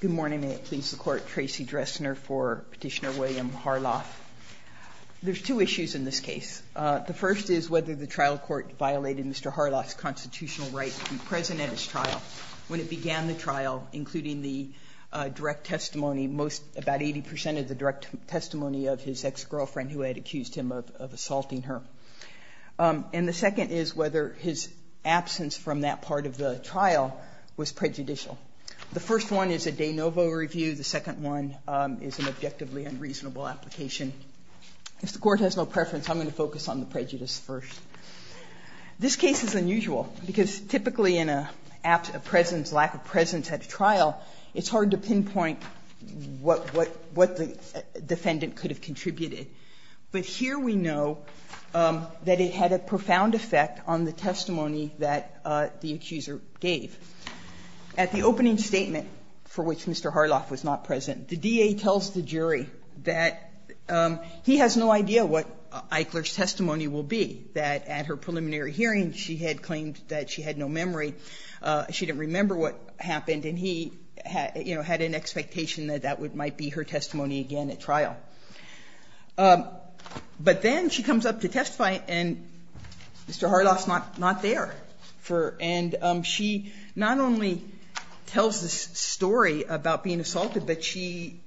Good morning, and it pleases the Court, Tracey Dressner for Petitioner William Harloff. There are two issues in this case. The first is whether the trial court violated Mr. Harloff's constitutional right to be present at his trial. When it began the trial, including the direct testimony, about 80% of the direct testimony of his ex-girlfriend who had accused him of assaulting her. And the second is whether his absence from that part of the trial was prejudicial. The first one is a de novo review. The second one is an objectively unreasonable application. If the Court has no preference, I'm going to focus on the prejudice first. This case is unusual, because typically in a absence of presence, lack of presence at a trial, it's hard to pinpoint what the defendant could have contributed. But here we know that it had a profound effect on the testimony that the accuser gave. At the opening statement, for which Mr. Harloff was not present, the DA tells the jury that he has no idea what Eichler's testimony will be, that at her preliminary hearing she had claimed that she had no memory, she didn't remember what happened, and he, you know, had an expectation that that might be her testimony again at trial. But then she comes up to testify, and Mr. Harloff's not there. And she not only tells this story about being assaulted, but she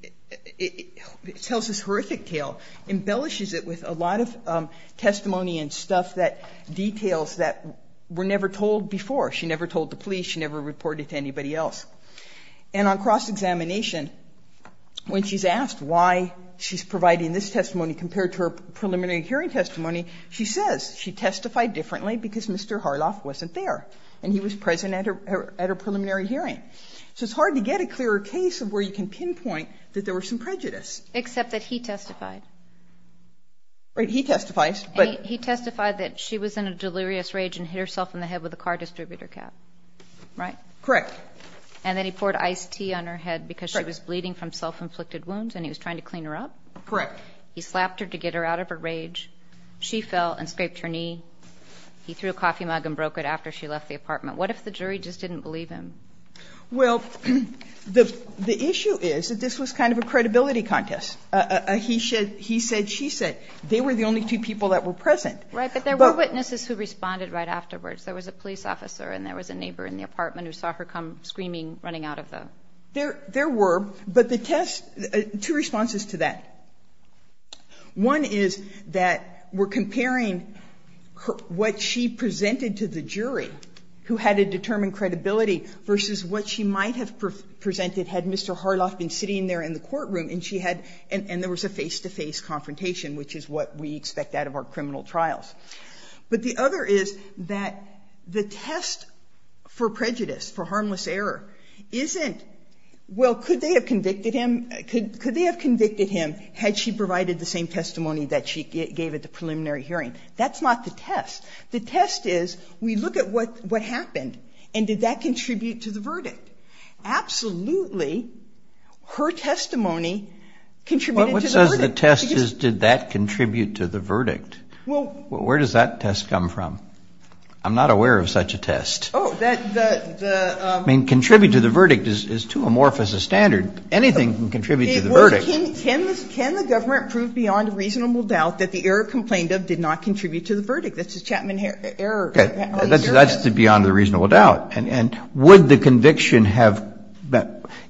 tells this horrific tale, embellishes it with a lot of testimony and stuff that details that were never told before. She never told the police. She never reported to anybody else. And on cross-examination, when she's asked why she's providing this testimony compared to her preliminary hearing testimony, she says she testified differently because Mr. Harloff wasn't there, and he was present at her preliminary hearing. So it's hard to get a clearer case of where you can pinpoint that there were some prejudice. Except that he testified. Right, he testifies, but he testified that she was in a delirious rage and hit herself in the head with a car distributor cap. Right? Correct. And then he poured iced tea on her head because she was bleeding from self-inflicted wounds, and he was trying to clean her up. Correct. He slapped her to get her out of her rage. She fell and scraped her knee. He threw a coffee mug and broke it after she left the apartment. What if the jury just didn't believe him? Well, the issue is that this was kind of a credibility contest. He said, she said. They were the only two people that were present. Right, but there were witnesses who responded right afterwards. There was a police officer and there was a neighbor in the apartment who saw her come screaming, running out of the room. There were, but the test, two responses to that. One is that we're comparing what she presented to the jury who had a determined credibility versus what she might have presented had Mr. Harloff been sitting there in the courtroom and she had, and there was a face-to-face confrontation, which is what we expect out of our criminal trials. But the other is that the test for prejudice, for harmless error, isn't, well, could they have convicted him? Could they have convicted him had she provided the same testimony that she gave at the preliminary hearing? That's not the test. The test is we look at what happened and did that contribute to the verdict. Absolutely, her testimony contributed to the verdict. Well, what says the test is did that contribute to the verdict? Well, where does that test come from? I'm not aware of such a test. I mean, contribute to the verdict is too amorphous a standard. Anything can contribute to the verdict. Can the government prove beyond a reasonable doubt that the error complained of did not contribute to the verdict? That's the Chapman error. That's beyond a reasonable doubt. And would the conviction have,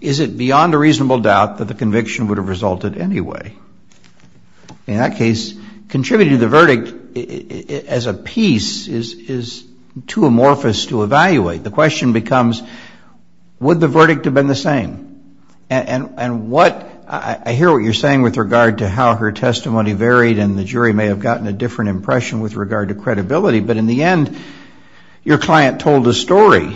is it beyond a reasonable doubt that the conviction would have resulted anyway? In that case, contributing to the verdict as a piece is too amorphous to evaluate. The question becomes would the verdict have been the same? And what, I hear what you're saying with regard to how her testimony varied, and the jury may have gotten a different impression with regard to credibility. But in the end, your client told a story.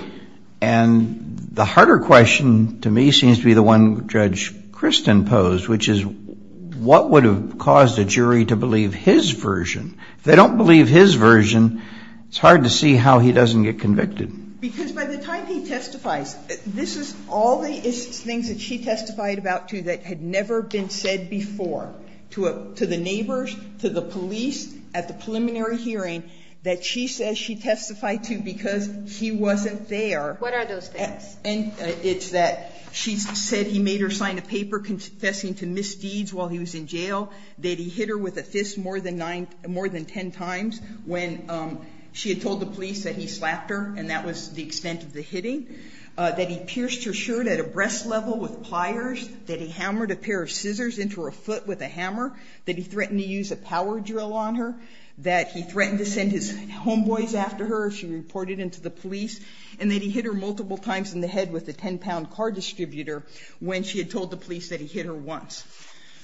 And the harder question to me seems to be the one Judge Kristen posed, which is what would have caused a jury to believe his version? If they don't believe his version, it's hard to see how he doesn't get convicted. Because by the time he testifies, this is all the things that she testified about, too, that had never been said before to the neighbors, to the police at the preliminary hearing that she says she testified to because he wasn't there. What are those things? It's that she said he made her sign a paper confessing to misdeeds while he was in jail, that he hit her with a fist more than ten times when she had told the police that he slapped her, and that was the extent of the hitting, that he pierced her shirt at a breast level with pliers, that he hammered a pair of scissors into her foot with a hammer, that he threatened to use a power drill on her, that he threatened to send his homeboys after her if she reported him to the police, and that he hit her multiple times in the head with a ten-pound car distributor when she had told the police that he hit her once.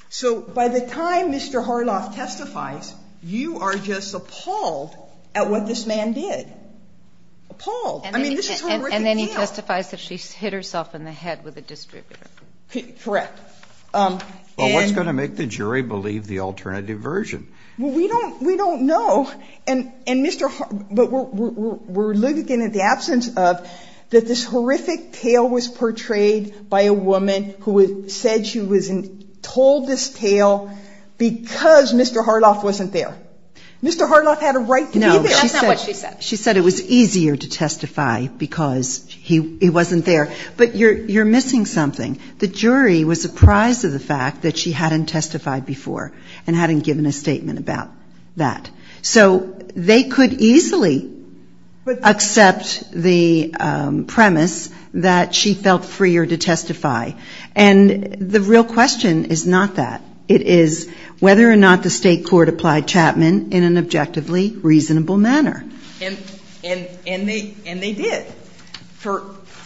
So by the time Mr. Harloff testifies, you are just appalled at what this man did. Appalled. I mean, this is her working out. And then he testifies that she hit herself in the head with a distributor. Correct. And what's going to make the jury believe the alternative version? Well, we don't know. But we're looking at the absence of that this horrific tale was portrayed by a woman who said she was told this tale because Mr. Harloff wasn't there. Mr. Harloff had a right to be there. No, that's not what she said. She said it was easier to testify because he wasn't there. But you're missing something. The jury was surprised at the fact that she hadn't testified before and hadn't given a statement about that. So they could easily accept the premise that she felt freer to testify. And the real question is not that. It is whether or not the state court applied Chapman in an objectively reasonable manner. And they did.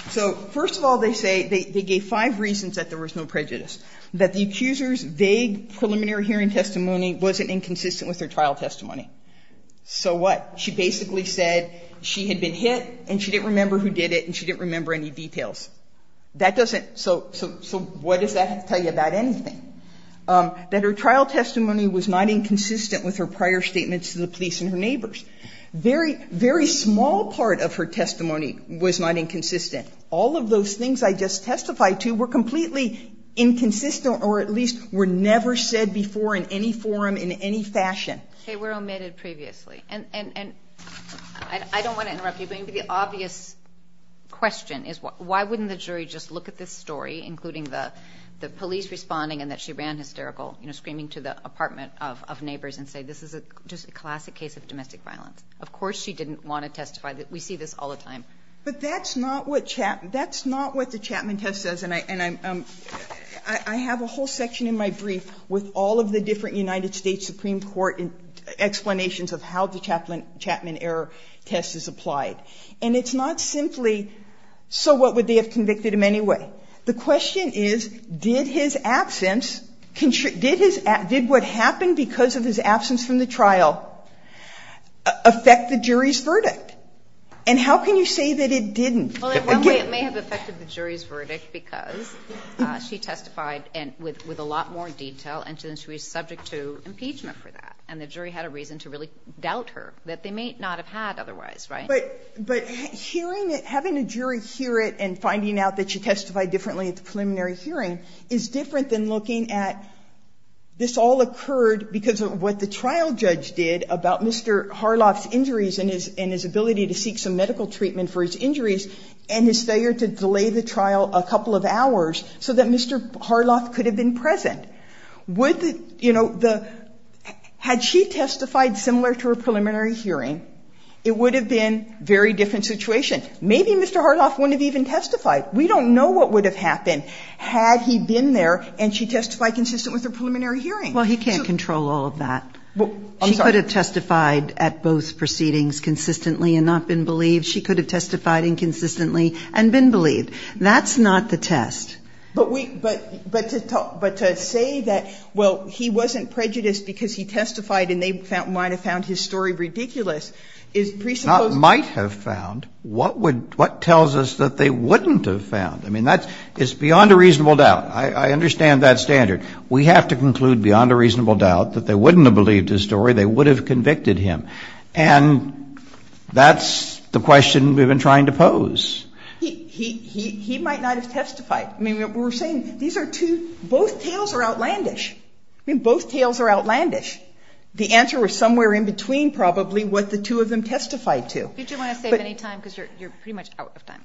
So first of all, they say they gave five reasons that there was no prejudice. That the accuser's vague preliminary hearing testimony wasn't inconsistent with her trial testimony. So what? She basically said she had been hit and she didn't remember who did it and she didn't remember any details. That doesn't so what does that tell you about anything? That her trial testimony was not inconsistent with her prior statements to the police and her neighbors. Very, very small part of her testimony was not inconsistent. All of those things I just testified to were completely inconsistent or at least were never said before in any forum in any fashion. Okay. We omitted previously. And I don't want to interrupt you, but maybe the obvious question is why wouldn't the jury just look at this story, including the police responding and that she ran hysterical, you know, screaming to the apartment of neighbors and say this is just a classic case of domestic violence. Of course she didn't want to testify. We see this all the time. But that's not what Chapman, that's not what the Chapman test says. And I have a whole section in my brief with all of the different United States Supreme Court explanations of how the Chapman error test is applied. And it's not simply so what would they have convicted him anyway? The question is did his absence, did what happened because of his absence from the trial affect the jury's verdict? And how can you say that it didn't? Again. Well, in one way it may have affected the jury's verdict because she testified with a lot more detail and she was subject to impeachment for that. And the jury had a reason to really doubt her that they may not have had otherwise, right? But hearing it, having a jury hear it and finding out that she testified differently at the preliminary hearing is different than looking at this all occurred because of what the trial judge did about Mr. Harloff's injuries and his ability to seek some medical treatment for his injuries and his failure to delay the trial a couple of hours so that Mr. Harloff could have been present. Would the, you know, the, had she testified similar to her preliminary hearing, it would have been a very different situation. Maybe Mr. Harloff wouldn't have even testified. We don't know what would have happened had he been there and she testified consistent with her preliminary hearing. Well, he can't control all of that. Well, I'm sorry. She could have testified at both proceedings consistently and not been believed. She could have testified inconsistently and been believed. That's not the test. But we, but, but to talk, but to say that, well, he wasn't prejudiced because he testified and they found, might have found his story ridiculous is presupposed Not might have found. What would, what tells us that they wouldn't have found? I mean, that's, it's beyond a reasonable doubt. I understand that standard. We have to conclude beyond a reasonable doubt that they wouldn't have believed his story. They would have convicted him. And that's the question we've been trying to pose. He, he, he, he might not have testified. I mean, we're saying these are two, both tales are outlandish. I mean, both tales are outlandish. The answer was somewhere in between probably what the two of them testified to. Did you want to save any time? Because you're, you're pretty much out of time.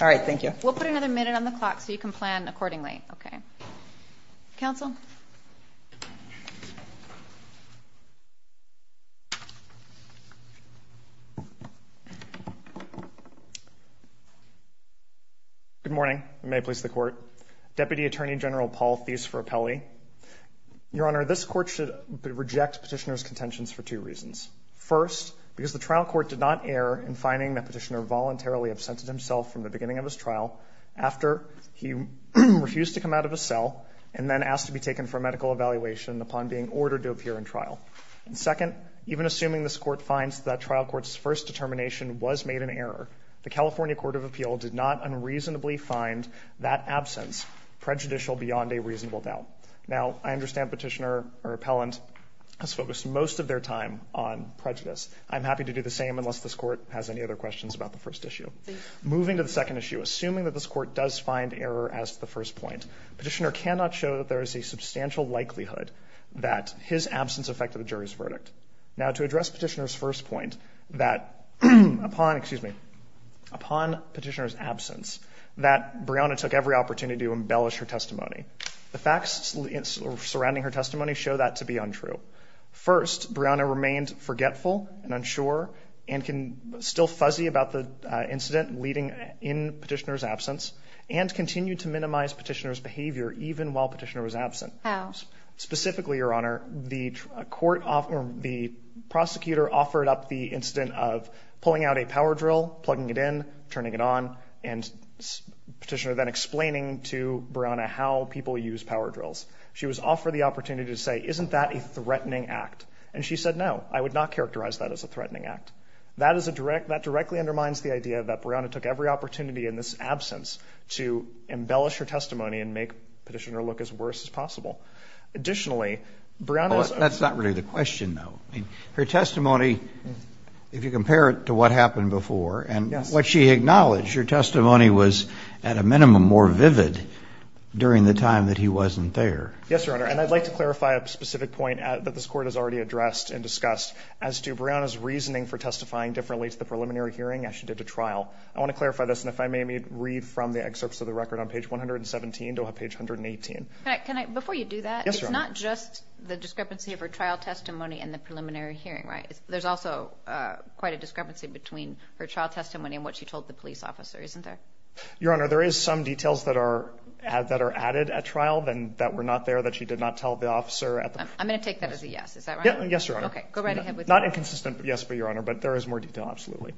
All right. Thank you. We'll put another minute on the clock so you can plan accordingly. Okay. Counsel. Good morning. May it please the court. Deputy Attorney General Paul Theis-Frappelli. Your Honor, this court should reject petitioner's contentions for two reasons. First, because the trial court did not err in finding that petitioner voluntarily absented himself from the beginning of his trial after he refused to come out of a cell and then asked to be taken for a medical evaluation upon being ordered to appear in trial. And second, even assuming this court finds that trial court's first determination was made in error, the California Court of Appeal did not unreasonably find that absence prejudicial beyond a reasonable doubt. Now, I understand petitioner or appellant has focused most of their time on prejudice. I'm happy to do the same unless this court has any other questions about the first issue. Moving to the second issue, assuming that this court does find error as to the first point, petitioner cannot show that there is a substantial likelihood that his absence affected the jury's verdict. Now, to address petitioner's first point, that upon, excuse me, upon petitioner's absence, that Breonna took every opportunity to embellish her testimony. The facts surrounding her testimony show that to be untrue. First, Breonna remained forgetful and unsure and still fuzzy about the incident leading in petitioner's absence and continued to minimize petitioner's behavior even while petitioner was absent. How? Specifically, Your Honor, the prosecutor offered up the incident of pulling out a power drill, plugging it in, turning it on, and petitioner then explaining to Breonna how people use power drills. She was offered the opportunity to say, isn't that a threatening act? And she said, no, I would not characterize that as a threatening act. That is a direct – that directly undermines the idea that Breonna took every opportunity in this absence to embellish her testimony and make petitioner look as worse as possible. Additionally, Breonna's – That's not really the question, though. I mean, her testimony, if you compare it to what happened before – Yes. What she acknowledged, her testimony was at a minimum more vivid during the time that he wasn't there. Yes, Your Honor, and I'd like to clarify a specific point that this Court has already addressed and discussed as to Breonna's reasoning for testifying differently to the preliminary hearing as she did to trial. I want to clarify this, and if I may, read from the excerpts of the record on page 117 to page 118. Can I – before you do that, it's not just the discrepancy of her trial testimony and the preliminary hearing, right? There's also quite a discrepancy between her trial testimony and what she told the police officer, isn't there? Your Honor, there is some details that are added at trial that were not there, that she did not tell the officer at the – I'm going to take that as a yes. Is that right? Yes, Your Honor. Okay, go right ahead with that. Not inconsistent, yes, but, Your Honor, but there is more detail, absolutely.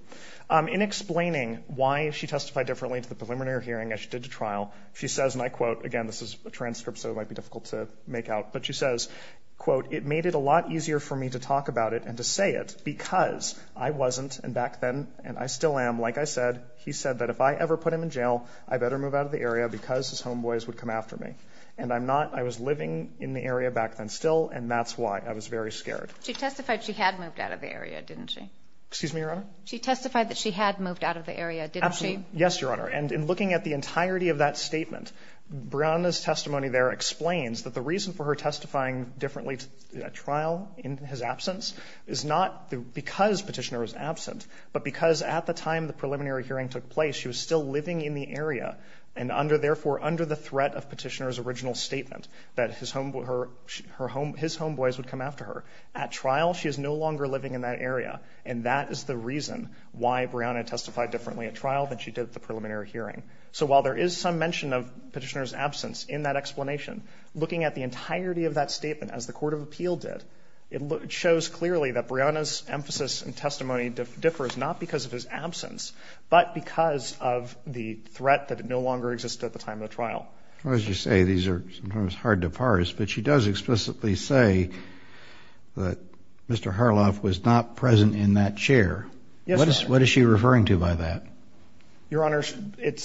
In explaining why she testified differently to the preliminary hearing as she did to trial, she says, and I quote – again, this is a transcript, so it might be difficult to make out – but she says, quote, it made it a lot easier for me to talk about it and to say it because I wasn't, and back then, and I still am, like I said, he said that if I ever put him in jail, I better move out of the area because his homeboys would come after me. And I'm not – I was living in the area back then still, and that's why. I was very scared. She testified she had moved out of the area, didn't she? Excuse me, Your Honor? She testified that she had moved out of the area, didn't she? Absolutely. Yes, Your Honor. And in looking at the entirety of that statement, Breonna's testimony there explains that the reason for her testifying differently at trial in his absence is not because Petitioner was absent, but because at the time the preliminary hearing took place, she was still living in the area and therefore under the threat of Petitioner's original statement that his homeboys would come after her. At trial, she is no longer living in that area, and that is the reason why Breonna testified differently at trial than she did at the preliminary hearing. So while there is some mention of Petitioner's absence in that explanation, looking at the entirety of that statement as the Court of Appeal did, it shows clearly that Breonna's emphasis and testimony differs not because of his absence, but because of the threat that it no longer existed at the time of the trial. As you say, these are sometimes hard to parse, but she does explicitly say that Mr. Harloff was not present in that chair. Yes, Your Honor. What is she referring to by that? Your Honor,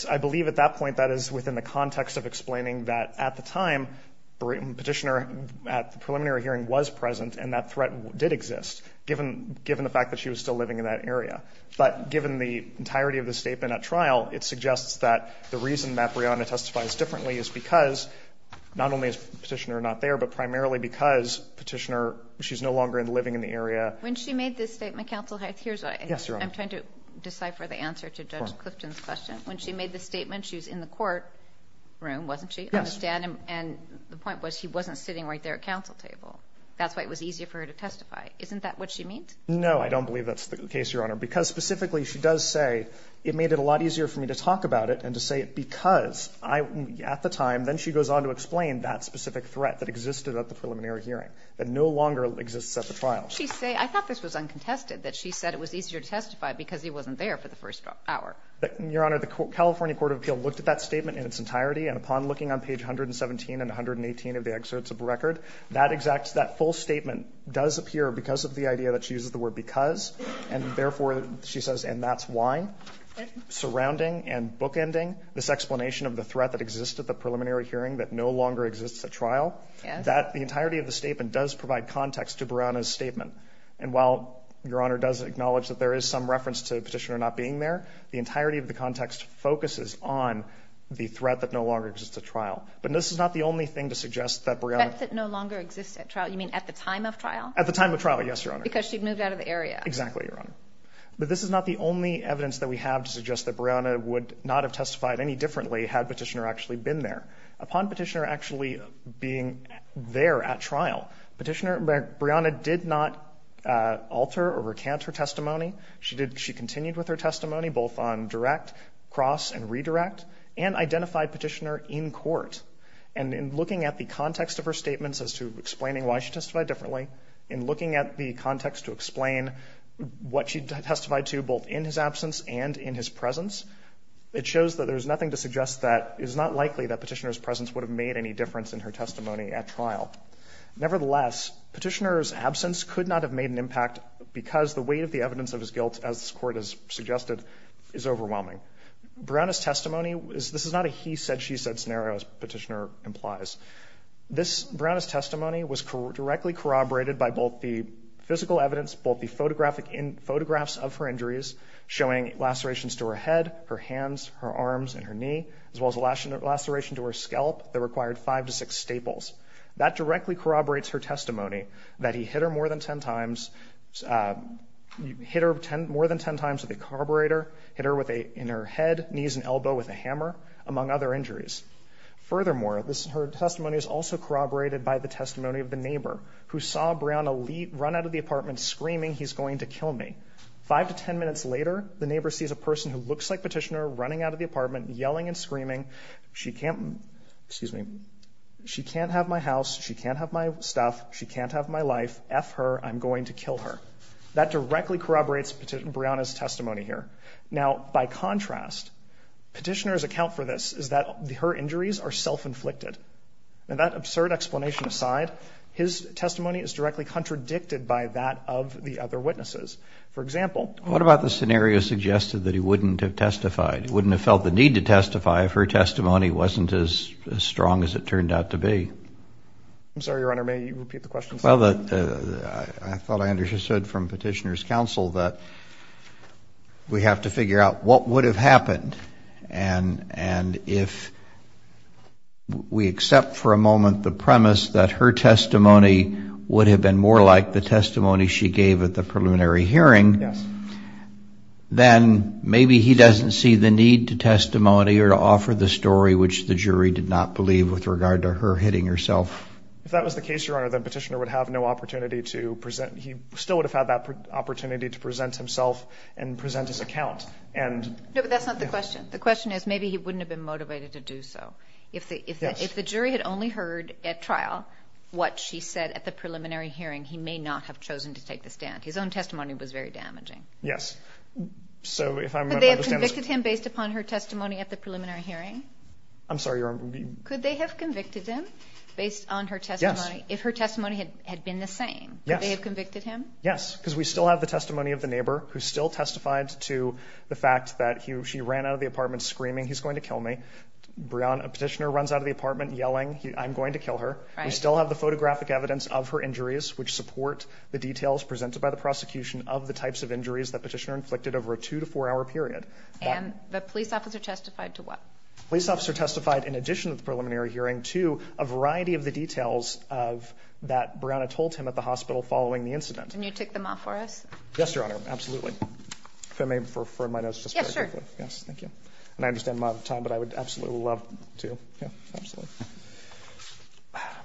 I believe at that point that is within the context of explaining that at the time Petitioner at the preliminary hearing was present and that threat did exist, given the fact that she was still living in that area. But given the entirety of the statement at trial, it suggests that the reason that Breonna testifies differently is because not only is Petitioner not there, but primarily because Petitioner, she's no longer living in the area. When she made this statement, counsel, here's what I'm trying to decipher the answer to Judge Clifton's question. When she made the statement, she was in the courtroom, wasn't she? Yes. I understand. And the point was he wasn't sitting right there at counsel table. That's why it was easier for her to testify. Isn't that what she means? No, I don't believe that's the case, Your Honor, because specifically she does say it made it a lot easier for me to talk about it and to say it because at the time, then she goes on to explain that specific threat that existed at the preliminary hearing, that no longer exists at the trial. I thought this was uncontested, that she said it was easier to testify because he wasn't there for the first hour. Your Honor, the California Court of Appeal looked at that statement in its entirety, and upon looking on page 117 and 118 of the excerpts of the record, that exact full statement does appear because of the idea that she uses the word because, and therefore she says, and that's why. Surrounding and bookending this explanation of the threat that exists at the preliminary hearing that no longer exists at trial, the entirety of the statement does provide context to Breonna's statement. And while Your Honor does acknowledge that there is some reference to Petitioner not being there, the entirety of the context focuses on the threat that no longer exists at trial. But this is not the only thing to suggest that Breonna... Threats that no longer exist at trial, you mean at the time of trial? At the time of trial, yes, Your Honor. Because she'd moved out of the area. Exactly, Your Honor. But this is not the only evidence that we have to suggest that Breonna would not have testified any differently had Petitioner actually been there. Upon Petitioner actually being there at trial, Petitioner, Breonna did not alter or recant her testimony. She continued with her testimony both on direct, cross, and redirect, and identified Petitioner in court. And in looking at the context of her statements as to explaining why she testified differently, in looking at the context to explain what she testified to both in his absence and in his presence, it shows that there's nothing to suggest that it's not likely that Petitioner's presence would have made any difference in her testimony at trial. Nevertheless, Petitioner's absence could not have made an impact because the weight of the evidence of his guilt, as this Court has suggested, is overwhelming. Breonna's testimony, this is not a he-said-she-said scenario, as Petitioner implies. Breonna's testimony was directly corroborated by both the physical evidence, both the photographs of her injuries showing lacerations to her head, her hands, her arms, and her knee, as well as a laceration to her scalp that required five to six staples. That directly corroborates her testimony that he hit her more than ten times with a carburetor, hit her in her head, knees, and elbow with a hammer, among other injuries. Furthermore, her testimony is also corroborated by the testimony of the neighbor who saw Breonna run out of the apartment screaming, he's going to kill me. Five to ten minutes later, the neighbor sees a person who looks like Petitioner running out of the apartment, yelling and screaming, she can't, excuse me, she can't have my house, she can't have my stuff, she can't have my life, F her, I'm going to kill her. That directly corroborates Breonna's testimony here. Now, by contrast, Petitioner's account for this is that her injuries are self-inflicted. And that absurd explanation aside, his testimony is directly contradicted by that of the other witnesses. For example... What about the scenario suggested that he wouldn't have testified? He wouldn't have felt the need to testify if her testimony wasn't as strong as it turned out to be. I'm sorry, Your Honor, may you repeat the question, please? Well, I thought I understood from Petitioner's counsel that we have to figure out what would have happened. And if we accept for a moment the premise that her testimony would have been more like the testimony she gave at the preliminary hearing, then maybe he doesn't see the need to testimony or to offer the story which the jury did not believe with regard to her hitting herself. If that was the case, Your Honor, then Petitioner would have no opportunity to present, he still would have had that opportunity to present himself and present his account. No, but that's not the question. The question is maybe he wouldn't have been motivated to do so. If the jury had only heard at trial what she said at the preliminary hearing, he may not have chosen to take the stand. His own testimony was very damaging. Yes. Could they have convicted him based upon her testimony at the preliminary hearing? I'm sorry, Your Honor. Could they have convicted him based on her testimony if her testimony had been the same? Yes. Could they have convicted him? Yes, because we still have the testimony of the neighbor who still testified to the fact that she ran out of the apartment screaming, he's going to kill me. A petitioner runs out of the apartment yelling, I'm going to kill her. We still have the photographic evidence of her injuries, which support the details presented by the prosecution of the types of injuries that Petitioner inflicted over a two- to four-hour period. And the police officer testified to what? The police officer testified, in addition to the preliminary hearing, to a variety of the details that Brianna told him at the hospital following the incident. Can you take them off for us? Yes, Your Honor, absolutely. If I may, for my notes, just very quickly. Yes, sure. Yes, thank you. And I understand I'm out of time, but I would absolutely love to.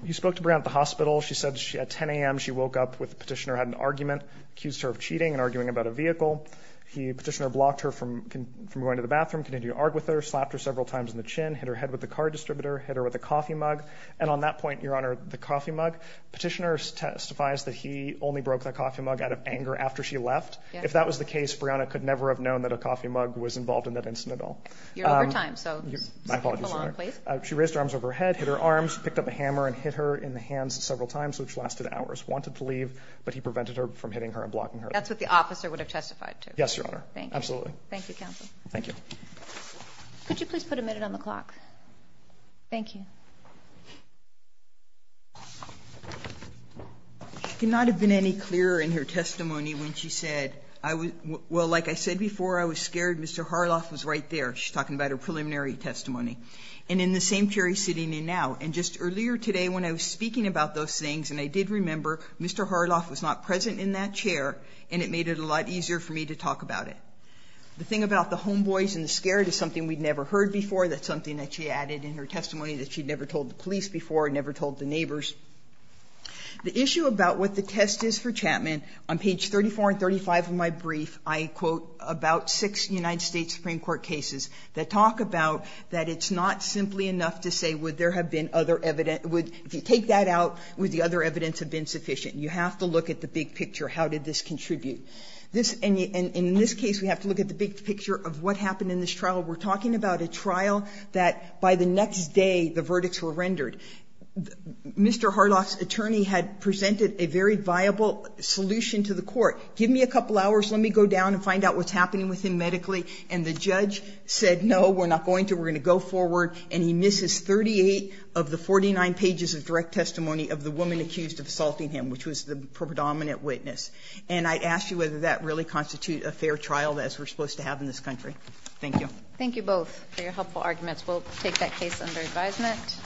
You spoke to Brianna at the hospital. She said at 10 a.m. she woke up with Petitioner had an argument, accused her of cheating and arguing about a vehicle. Petitioner blocked her from going to the bathroom, continued to argue with her, slapped her several times on the chin, hit her head with the car distributor, hit her with a coffee mug. And on that point, Your Honor, the coffee mug, Petitioner testifies that he only broke that coffee mug out of anger after she left. If that was the case, Brianna could never have known that a coffee mug was involved in that incident at all. You're over time, so move along, please. She raised her arms over her head, hit her arms, picked up a hammer and hit her in the hands several times, which lasted hours. Wanted to leave, but he prevented her from hitting her and blocking her. That's what the officer would have testified to? Yes, Your Honor. Thank you. Absolutely. Thank you, counsel. Thank you. Could you please put a minute on the clock? Thank you. It could not have been any clearer in her testimony when she said, well, like I said before, I was scared. Mr. Harloff was right there. She's talking about her preliminary testimony. And in the same chair he's sitting in now. And just earlier today when I was speaking about those things, and I did remember, Mr. Harloff was not present in that chair, and it made it a lot easier for me to talk about it. The thing about the homeboys and the scared is something we'd never heard before. That's something that she added in her testimony that she'd never told the police before, never told the neighbors. The issue about what the test is for Chapman, on page 34 and 35 of my brief, I quote about six United States Supreme Court cases that talk about that it's not simply enough to say would there have been other evidence. If you take that out, would the other evidence have been sufficient? You have to look at the big picture. How did this contribute? And in this case we have to look at the big picture of what happened in this trial. We're talking about a trial that by the next day the verdicts were rendered. Mr. Harloff's attorney had presented a very viable solution to the court. Give me a couple hours. Let me go down and find out what's happening with him medically. And the judge said, no, we're not going to. We're going to go forward. And he misses 38 of the 49 pages of direct testimony of the woman accused of assaulting him, which was the predominant witness. And I'd ask you whether that really constitutes a fair trial as we're supposed to have in this country. Thank you. Thank you both for your helpful arguments. We'll take that case under advisement.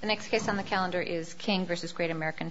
The next case on the calendar is King v. Great American Family.